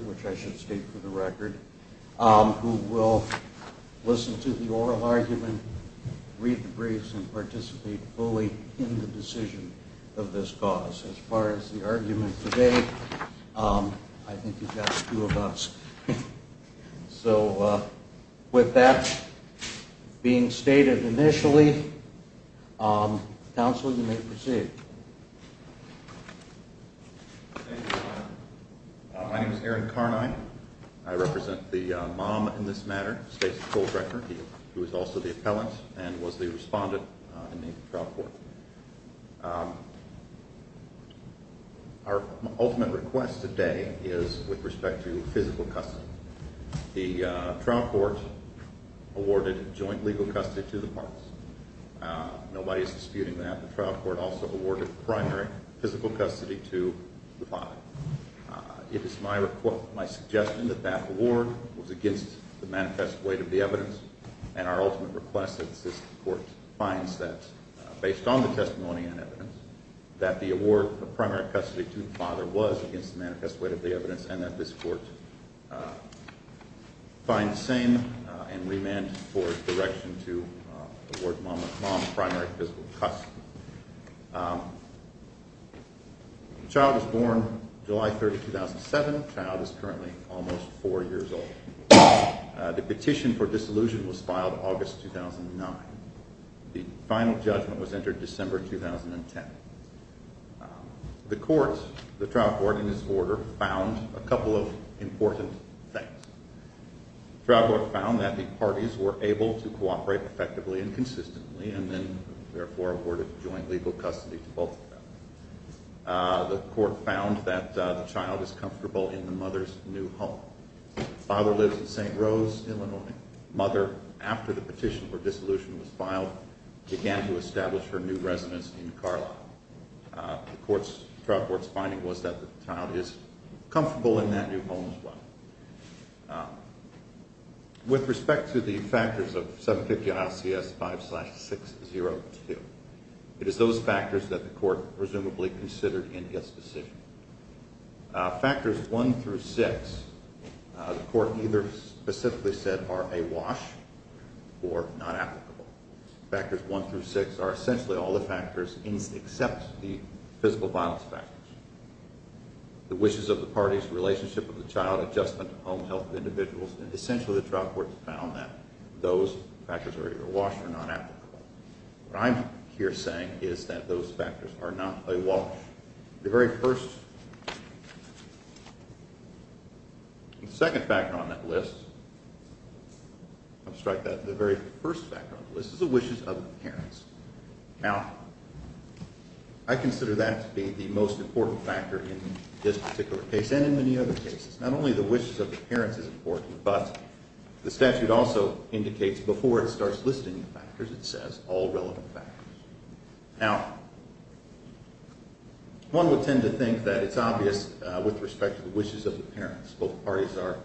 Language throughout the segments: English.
which I should state for the record, who will listen to the oral argument, read the briefs and participate fully in the decision of this cause. As far as the argument today, I think you've got the two of us. So with that being stated initially, counsel, you may proceed. Thank you. My name is Aaron Carnine. I represent the mom in this matter, Stacy Kohlbrecher, who is also the appellant and was the respondent in the trial court. Our ultimate request today is with respect to physical custody. The trial court awarded joint legal custody to the parties. Nobody is disputing that. The trial court also awarded primary physical custody to the father. It is my suggestion that that award was against the manifest weight of the evidence and our ultimate request that this court finds that, based on the testimony and evidence, that the award of primary custody to the father was against the manifest weight of the evidence and that this court find the same and remand for direction to award mom primary physical custody. The child was born July 30, 2007. The child is currently almost four years old. The petition for disillusionment was filed August 2009. The final judgment was entered December 2010. The court, the trial court in this order, found a couple of important things. The trial court found that the parties were able to cooperate effectively and consistently and then therefore awarded joint legal custody to both of them. The court found that the child is comfortable in the mother's new home. The father lives in St. Rose, Illinois. The mother, after the petition for dissolution was filed, began to establish her new residence in Carlisle. The trial court's finding was that the child is comfortable in that new home as well. With respect to the factors of 750 ILCS 5-602, it is those factors that the court presumably considered in its decision. Factors 1 through 6, the court either specifically said are a wash or not applicable. Factors 1 through 6 are essentially all the factors except the physical violence factors. The wishes of the parties, the relationship of the child, adjustment to home health of individuals, and essentially the trial court found that those factors are either a wash or not applicable. What I'm here saying is that those factors are not a wash. The very first, the second factor on that list, I'll strike that, the very first factor on the parents. Now, I consider that to be the most important factor in this particular case and in many other cases. Not only the wishes of the parents is important, but the statute also indicates before it starts listing the factors, it says all relevant factors. Now, one would tend to think that it's obvious with respect to the wishes of the parents. Both parties are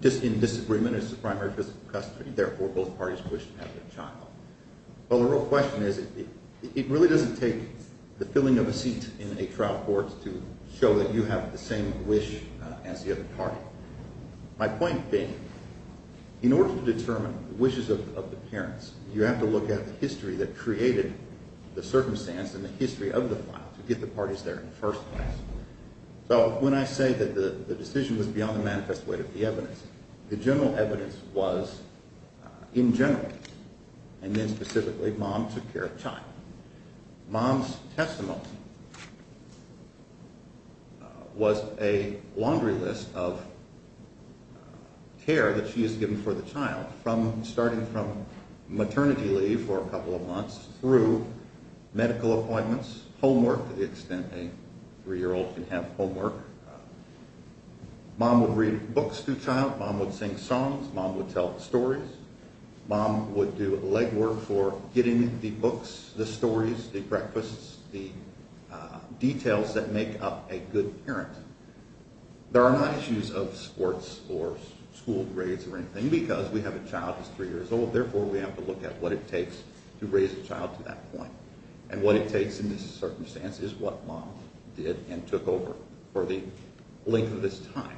just in disagreement as the primary physical custody, therefore both parties wish to have their child. Well, the real question is, it really doesn't take the filling of a seat in a trial court to show that you have the same wish as the other party. My point being, in order to determine the wishes of the parents, you have to look at the history that created the circumstance and the history of the file to get the parties there in the first place. So, when I say that the decision was beyond the manifest weight of the evidence, the general evidence was in general and then specifically mom took care of the child. Mom's testimony was a laundry list of care that she has given for the child from starting from maternity leave for a couple of months through medical appointments, homework to the extent a three-year-old can have homework, mom would read books to child, mom would sing songs, mom would tell stories, mom would do leg work for getting the books, the stories, the breakfasts, the details that make up a good parent. There are not issues of sports or school grades or anything because we have a child that's three years old, therefore we have to look at what it takes to raise a child to that point. And what it takes in this circumstance is what mom did and took over for the length of this time.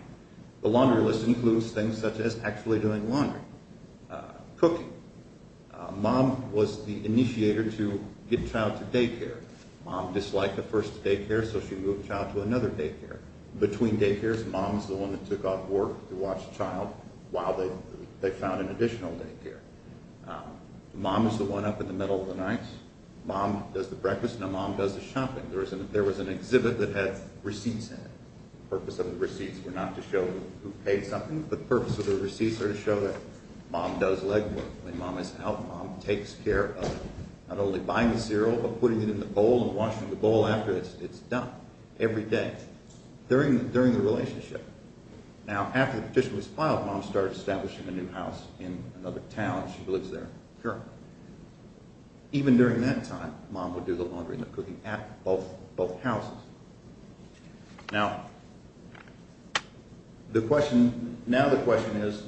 The laundry list includes things such as actually doing laundry, cooking. Mom was the initiator to get child to daycare. Mom disliked the first daycare, so she moved child to another daycare. Between daycares, mom is the one that took off work to watch the child while they found an additional daycare. Mom is the one up in the middle of the night. Mom does the breakfast, now mom does the shopping. There was an exhibit that had receipts in it. The purpose of the receipts were to show that mom does leg work. Mom is out, mom takes care of not only buying the cereal but putting it in the bowl and washing the bowl after it's done every day during the relationship. Now after the petition was filed, mom started establishing a new house in another town. She lives there currently. Even during that time, mom would do the laundry and the cooking at both houses. Now the question is,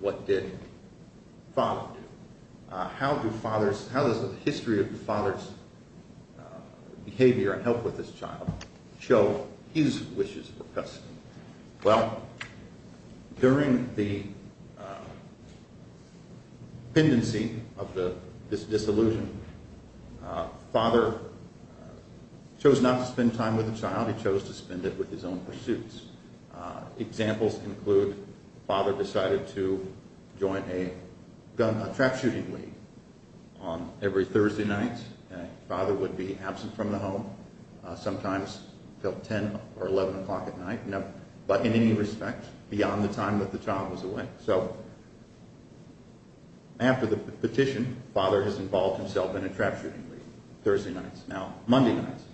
what did father do? How does the history of the father's behavior and help with this child show his wishes for custody? Well, during the petition, he chose not to spend time with the child, he chose to spend it with his own pursuits. Examples include, father decided to join a trap shooting league on every Thursday night. Father would be absent from the home, sometimes until 10 or 11 o'clock at night, but in any respect, beyond the time that the child was away. So after the petition, father has involved himself in a trap shooting league, Thursday nights. Now, Monday nights,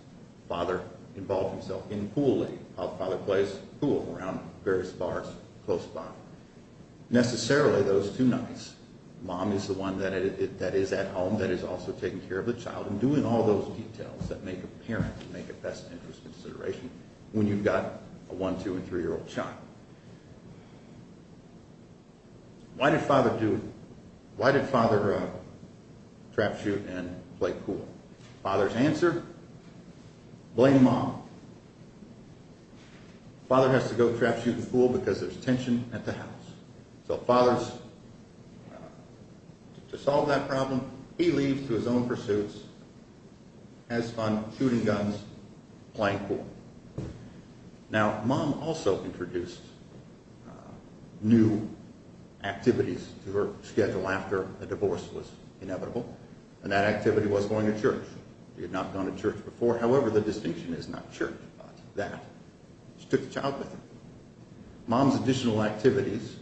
father involved himself in pool league, while father plays pool around various bars close by. Necessarily, those two nights, mom is the one that is at home, that is also taking care of the child and doing all those details that make a parent make a best interest consideration when you've got a one, two, and three-year-old child. Why did father trap shoot and play pool? Father's answer, blame mom. Father has to go trap shoot in the pool because there's tension at the house. So father's, to solve that problem, he leaves to his own pursuits, has fun shooting guns, playing pool. Now, mom also introduced new activities to her schedule after a divorce was inevitable, and that activity was going to church. She had not gone to church before. However, the distinction is not church, but that she took the child with her. Mom's additional activities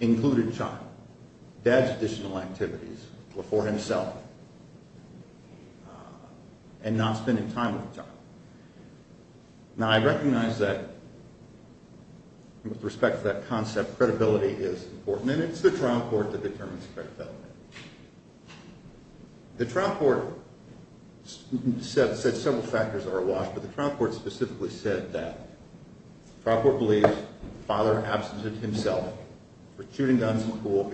included child. Dad's additional activities were for himself, and not spending time with the child. Now, I recognize that, with respect to that concept, credibility is important, and it's the trial court that determines credibility. The trial court said several factors are awash, but the trial court specifically said that. The trial court believes father absented himself for shooting guns in the pool,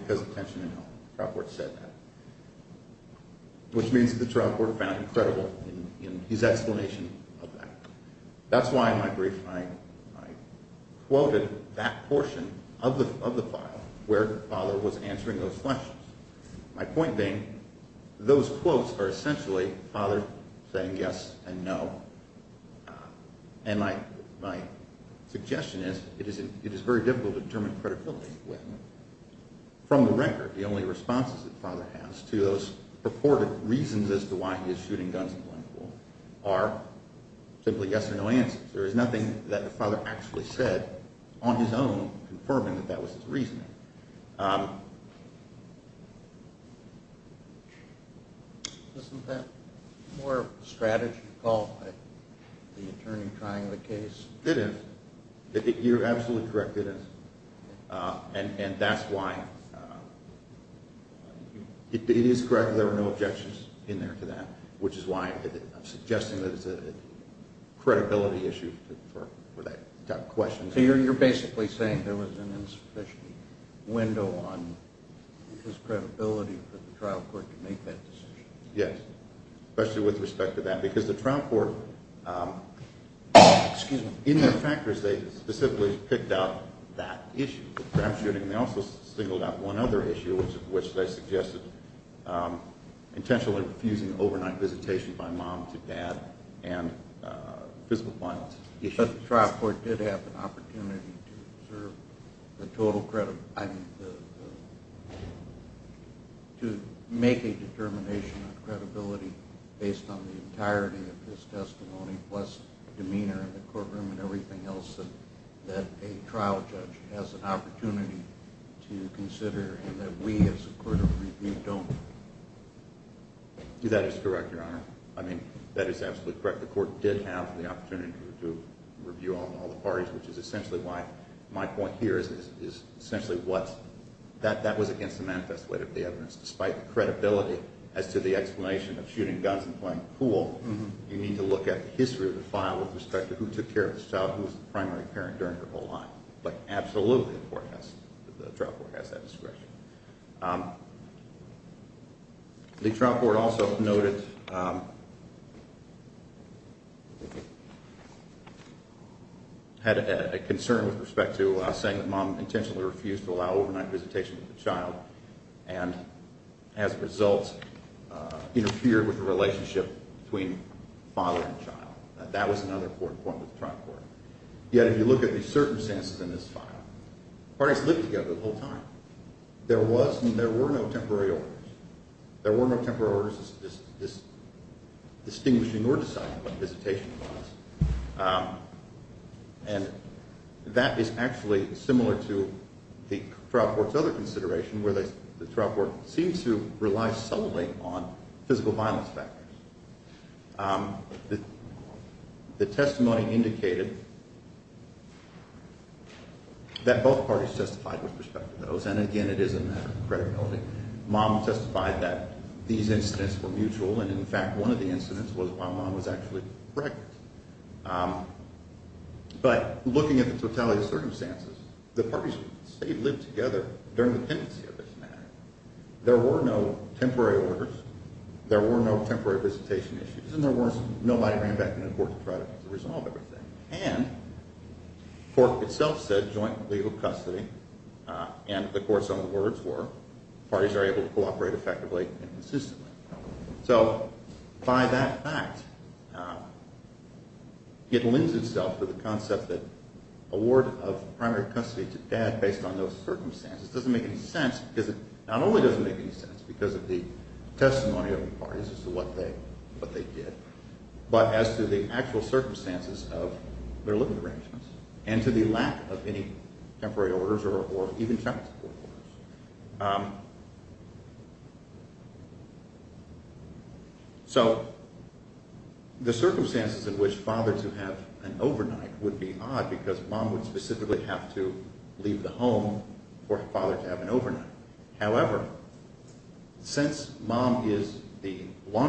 which means the trial court found him credible in his explanation of that. That's why in my brief, I quoted that portion of the file where father was answering those questions. My point being, those quotes are essentially father saying yes and no. And my suggestion is, it is very difficult to determine credibility from the record. The only responses that father has to those purported reasons as to why he's shooting guns in the pool are simply yes or no answers. There is nothing that the father actually said on his own confirming that that was his reasoning. Isn't that more strategy called by the attorney trying the case? It is. You're absolutely correct, it is. And that's why it is correct that there were no objections in there to that, which is why I'm suggesting that it's a credibility issue for that type of question. So you're basically saying there was an insufficient window on his credibility for the trial court to make that decision? Yes, especially with respect to that, because the trial court in their factors, they specifically picked out that issue, the crime shooting. They also singled out one other issue, which they suggested, intentionally refusing overnight visitation by mom to dad and physical violence issues. But the trial court did have an opportunity to make a determination on credibility based on the entirety of his testimony, plus demeanor in the courtroom and everything else that a trial judge has an opportunity to consider, and that we as a court of review don't. That is correct, your honor. I mean, that is absolutely correct. The court did have the opportunity to review on all the parties, which is essentially why my point here is essentially that that was against the manifest weight of the evidence. Despite the credibility as to the explanation of shooting guns and playing pool, you need to look at the history of the file with respect to who took care of this child, who was the primary parent during the whole time. But absolutely, the trial court has that discretion. The trial court also noted that had a concern with respect to saying that mom intentionally refused to allow overnight visitation with the child and as a result interfered with the relationship between father and child. That was another important point with the trial court. Yet, if you look at the circumstances in this file, parties lived together the whole time. There was and there were no temporary orders. There were no temporary orders as distinguishing or deciding what visitation was. And that is actually similar to the trial court's other consideration where the trial court seems to rely solely on physical violence factors. The testimony indicated that both parties testified with respect to those. And again, it is a matter of credibility. Mom testified that these incidents were mutual. And in fact, one of the incidents was while mom was actually pregnant. But looking at the totality of circumstances, the parties say lived together during the pendency of this matter. There were no temporary orders. There were no temporary visitation issues. And there were nobody ran back to the court to try to resolve everything. And the court itself said joint legal custody. And the court's own words were, parties are able to cooperate effectively and consistently. So by that fact, it lends itself to the concept that award of primary custody to dad based on those circumstances doesn't make any sense because it not only doesn't make any sense because of the their living arrangements and to the lack of any temporary orders or even child support orders. So the circumstances in which father to have an overnight would be odd because mom would specifically have to leave the home for father to have an overnight. However, since mom is the all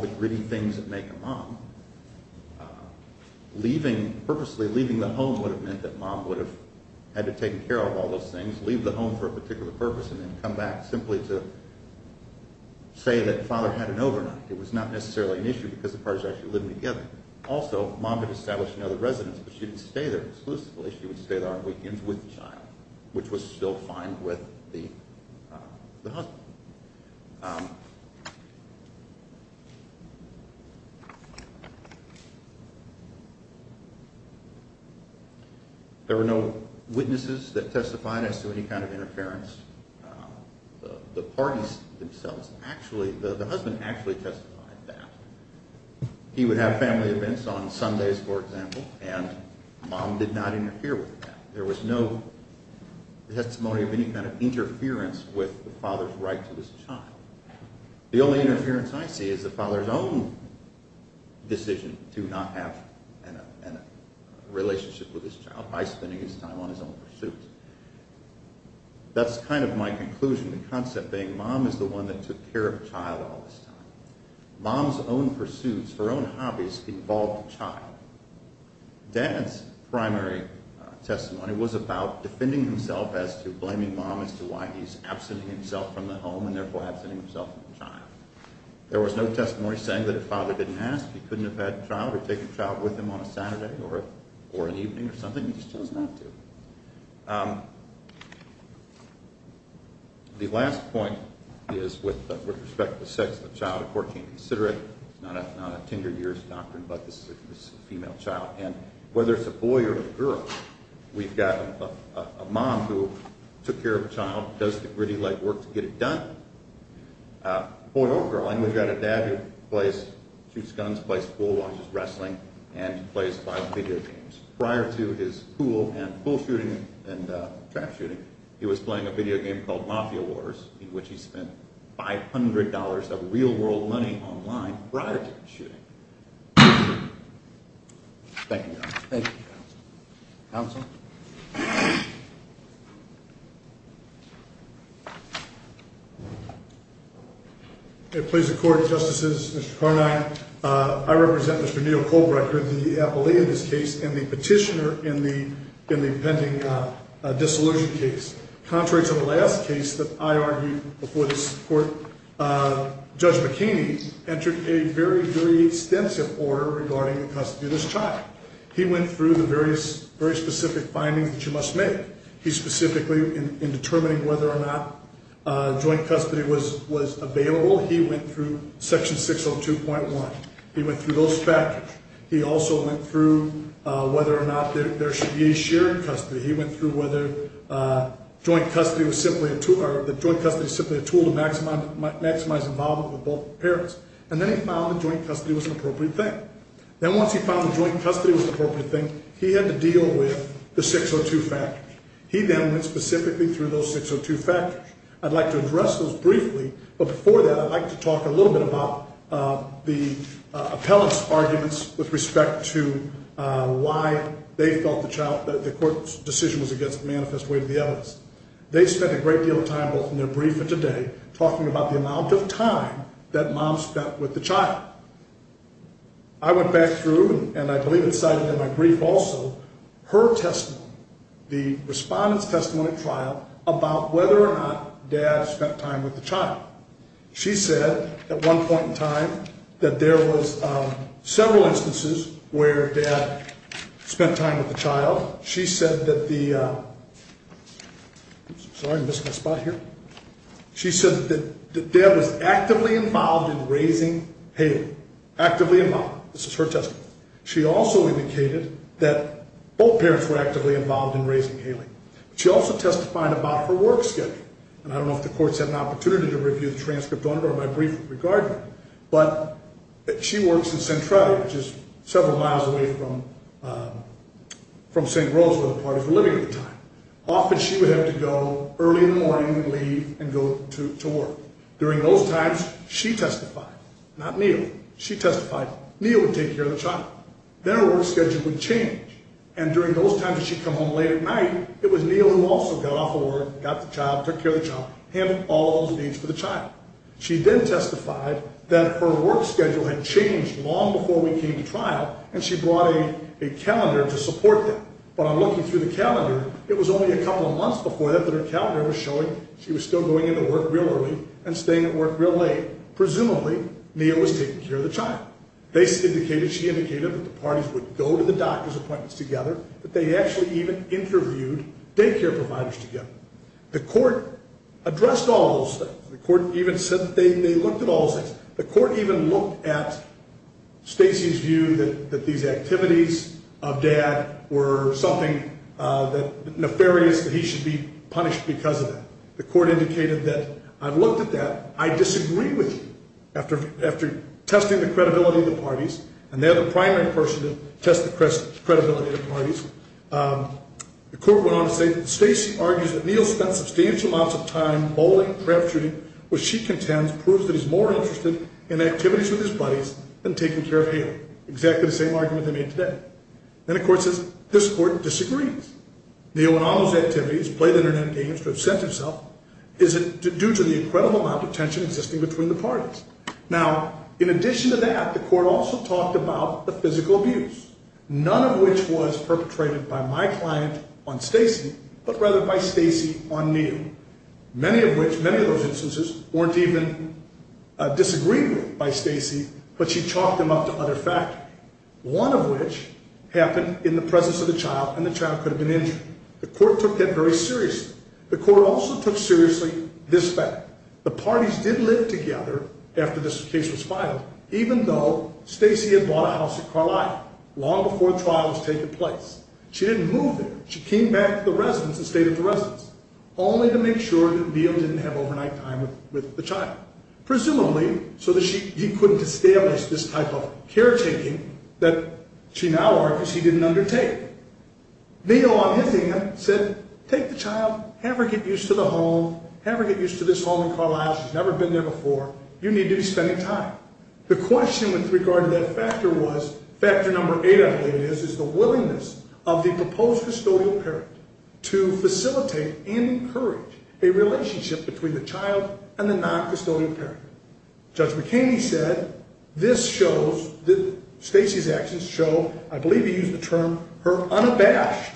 the gritty things that make a mom, purposely leaving the home would have meant that mom would have had to take care of all those things, leave the home for a particular purpose, and then come back simply to say that father had an overnight. It was not necessarily an issue because the parties actually lived together. Also, mom had established another residence, but she didn't stay there exclusively. She would stay there on weekends with the child, which was still fine with the husband. There were no witnesses that testified as to any kind of interference. The parties themselves, actually, the husband actually testified that. He would have family events on Sundays, for example, and mom did not interfere with that. There was no testimony of any kind of interference with the father's right to this child. The only interference I see is the father's own decision to not have a relationship with his child by spending his time on his own pursuits. That's kind of my conclusion, the concept being mom is the one that took care of child all this time. Mom's own pursuits, her own hobbies, involved child. Dad's primary testimony was about defending himself as to blaming mom as to why he's absenting himself from the home and therefore absenting himself from the child. There was no testimony saying that if father didn't ask, he couldn't have had a child or taken a child with him on a Saturday or an evening or something. He just chose not to. The last point is with respect to the sex of the child, the court can't consider it. It's not a tender years doctrine, but this is a female child. Whether it's a boy or a girl, we've got a mom who took care of a child, does the gritty leg work to get it done. Boy or girl, I know you've got a dad who plays, shoots guns, plays pool, watches wrestling, and plays video games. Prior to his pool shooting and trap shooting, he was playing a video game called Mafia Wars in which he spent $500 of real world money online prior to the shooting. Thank you, counsel. It please the court, justices, Mr. Carnine, I represent Mr. Neil Colbrecker, the appellee in this case and the petitioner in the pending disillusion case. Contrary to the last case that I argued before this court, Judge McHaney entered a very, very extensive order regarding the custody of this child. He went through the very specific findings that you must make. He specifically, in determining whether or not joint custody was available, he went through whether or not there should be a shared custody. He went through whether joint custody was simply a tool to maximize involvement with both parents. And then he found that joint custody was an appropriate thing. Then once he found that joint custody was an appropriate thing, he had to deal with the 602 factors. He then went specifically through those 602 factors. I'd like to address those briefly, but before that, I'd like to talk a little bit about why they felt the court's decision was against a manifest way to the evidence. They spent a great deal of time both in their brief and today talking about the amount of time that mom spent with the child. I went back through, and I believe it's cited in my brief also, her testimony, the respondent's testimony at trial about whether or not dad spent time with the child. She said that the, sorry, I missed my spot here. She said that dad was actively involved in raising Haley, actively involved. This is her testimony. She also indicated that both parents were actively involved in raising Haley. She also testified about her work schedule. And I don't know if the court's had an opportunity to review the transcript on it or my brief regarding it, but she works in Centralia, which is several miles away from St. Rose, where the parties were living at the time. Often she would have to go early in the morning and leave and go to work. During those times, she testified, not Neal. She testified, Neal would take care of the child. Their work schedule would change. And during those times, she'd come home late at night, it was Neal who also got off of work, got the job, took care of the job, handled all those for the child. She then testified that her work schedule had changed long before we came to trial and she brought a calendar to support that. But I'm looking through the calendar. It was only a couple of months before that, that her calendar was showing she was still going into work real early and staying at work real late. Presumably Neal was taking care of the child. They indicated, she indicated that the parties would go to the doctor's appointments together, that they actually interviewed daycare providers together. The court addressed all those things. The court even said that they looked at all those things. The court even looked at Stacey's view that these activities of dad were something nefarious, that he should be punished because of that. The court indicated that, I've looked at that. I disagree with you. After testing the credibility of the parties, and they're the primary person to test the credibility of the parties, the court went on to say that Stacey argues that Neal spent substantial amounts of time bowling, crap shooting, which she contends proves that he's more interested in activities with his buddies than taking care of him. Exactly the same argument they made today. Then the court says, this court disagrees. Neal went on those activities, played internet games, to have sent himself. Is it due to the incredible amount of tension existing between the parties? Now, in addition to that, the court also talked about the physical abuse, none of which was perpetrated by my client on Stacey, but rather by Stacey on Neal. Many of which, many of those instances, weren't even disagreed with by Stacey, but she chalked them up to other factors. One of which happened in the presence of the child, and the child could have been injured. The court took that very seriously. The court also took seriously this fact. The parties did live together after this case was over, even though Stacey had bought a house in Carlisle long before the trial was taking place. She didn't move there. She came back to the residence and stayed at the residence, only to make sure that Neal didn't have overnight time with the child. Presumably, so that he couldn't establish this type of caretaking that she now argues he didn't undertake. Neal, on his end, said, take the child, have her get used to the home, have her get used to this home in Carlisle. She's never been there before. You need to be spending time. The question with regard to that factor was, factor number eight, I believe it is, is the willingness of the proposed custodial parent to facilitate and encourage a relationship between the child and the non-custodial parent. Judge McKamey said, this shows that Stacey's actions show, I believe he used the term her unabashed,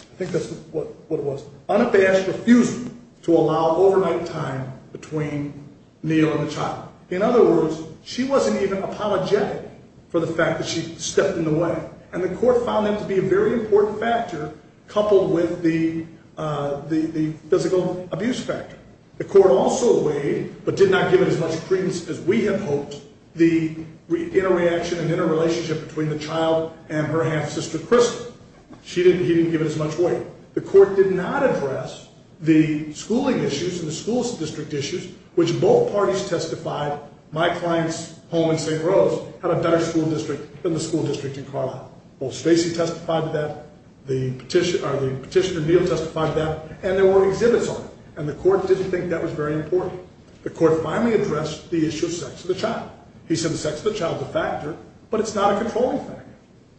I think that's what it was, unabashed refusal to allow overnight time between Neal and the child. In other words, she wasn't even apologetic for the fact that she stepped in the way. And the court found that to be a very important factor, coupled with the physical abuse factor. The court also weighed, but did not give it as much credence as we had hoped, the interreaction and interrelationship between the child and her half-sister Crystal. She didn't, he didn't give it as much weight. The court did not address the schooling issues and the school district issues, which both parties testified, my client's home in St. Rose had a better school district than the school district in Carlisle. Both Stacey testified to that, the petition, or the petitioner Neal testified to that, and there were exhibits on it. And the court didn't think that was very important. The court finally addressed the issue of sex of the child. He said the sex of the child is a factor, but it's not a controlling factor.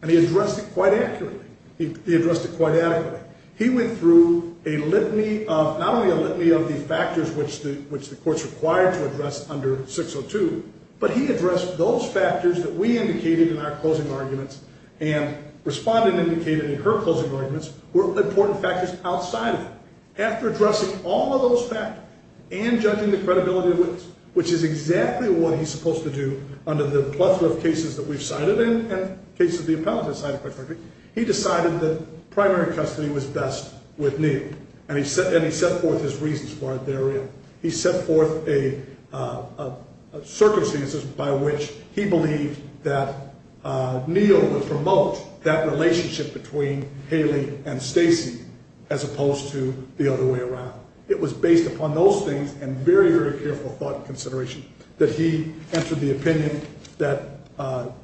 And he addressed it quite accurately. He addressed it quite adequately. He went through a litany of, not only a litany of the factors which the, which the court's required to address under 602, but he addressed those factors that we indicated in our closing arguments and respondent indicated in her closing arguments were important factors outside of it. After addressing all of those factors and judging the credibility of witnesses, which is exactly what he's supposed to do under the plethora of cases that we've cited and cases the appellate has cited quite frankly, he decided that primary custody was best with Neal. And he set, and he set forth his reasons for it therein. He set forth a circumstances by which he believed that Neal would promote that relationship between Kaylee and Stacey, as opposed to the other way around. It was based upon those things and very, very careful thought and consideration that he entered the opinion that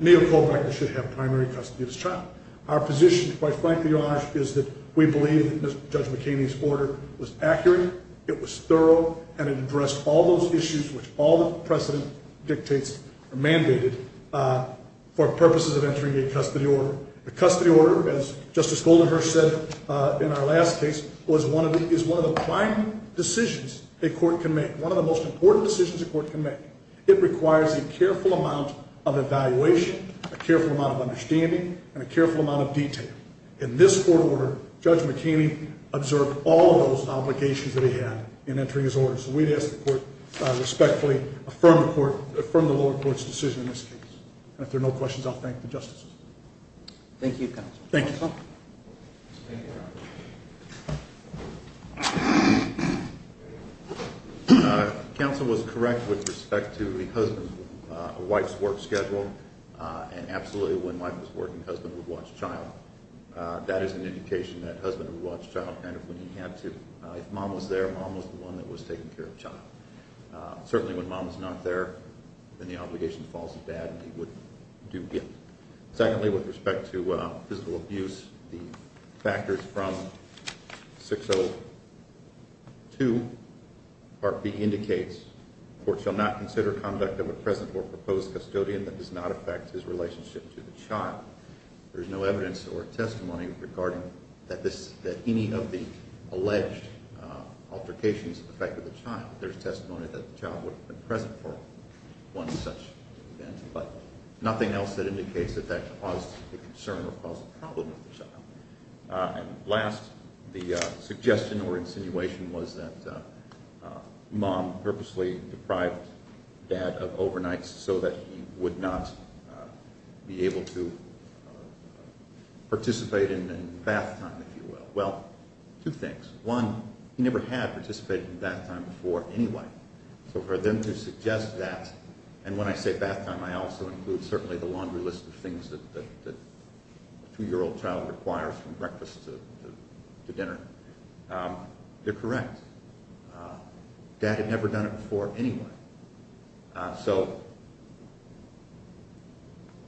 Neal Kovac should have primary custody of his child. Our position quite frankly, Your Honor, is that we believe that Judge McKinney's order was accurate. It was thorough and it addressed all those issues, which all the precedent dictates are mandated for purposes of entering a custody order. A custody order, as Justice Goldenherz said in our last case, was one of the, is one of the prime decisions a court can make. One of the most important decisions a court can make. It requires a careful amount of evaluation, a careful amount of understanding, and a careful amount of detail. In this court order, Judge McKinney observed all of those obligations that he had in entering his order. So we'd ask the court to respectfully affirm the lower court's decision in this case. And if there are no questions, I'll thank the justices. Thank you, counsel. Thank you. Counsel was correct with respect to the husband, wife's work schedule, and absolutely when wife was working, husband would watch child. That is an indication that husband would watch child kind of when he had to. If mom was there, mom was the one that was taking care of child. Certainly when mom's not there, then the obligation falls to dad and he would do good. Secondly, with respect to physical abuse, the factors from 602 Part B indicates, court shall not consider conduct of a present or proposed custodian that does not affect his relationship to the child. There's no evidence or testimony regarding that this, that any of the child would have been present for one such event, but nothing else that indicates that that caused a concern or caused a problem with the child. And last, the suggestion or insinuation was that mom purposely deprived dad of overnights so that he would not be able to participate in bath time, if you will. Well, two things. One, he never had participated in bath time before anyway. So for them to suggest that, and when I say bath time, I also include certainly the laundry list of things that a two-year-old child requires from breakfast to dinner. They're correct. Dad had never done it before anyway. So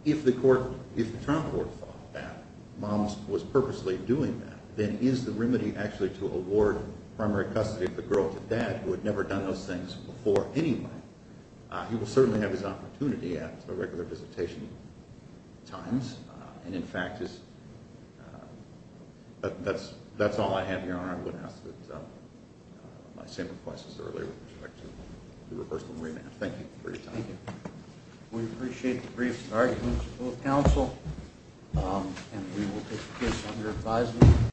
if the court, if the trial court thought that mom was purposely doing that, then is the remedy actually to award primary custody of the girl to dad who had never done those things before anyway? He will certainly have his opportunity at a regular visitation times. And in fact, that's all I have here. I would ask that my same request as earlier with respect to the reversal of remand. Thank you for your time. We appreciate the brief arguments of both counsel and we will take your advice.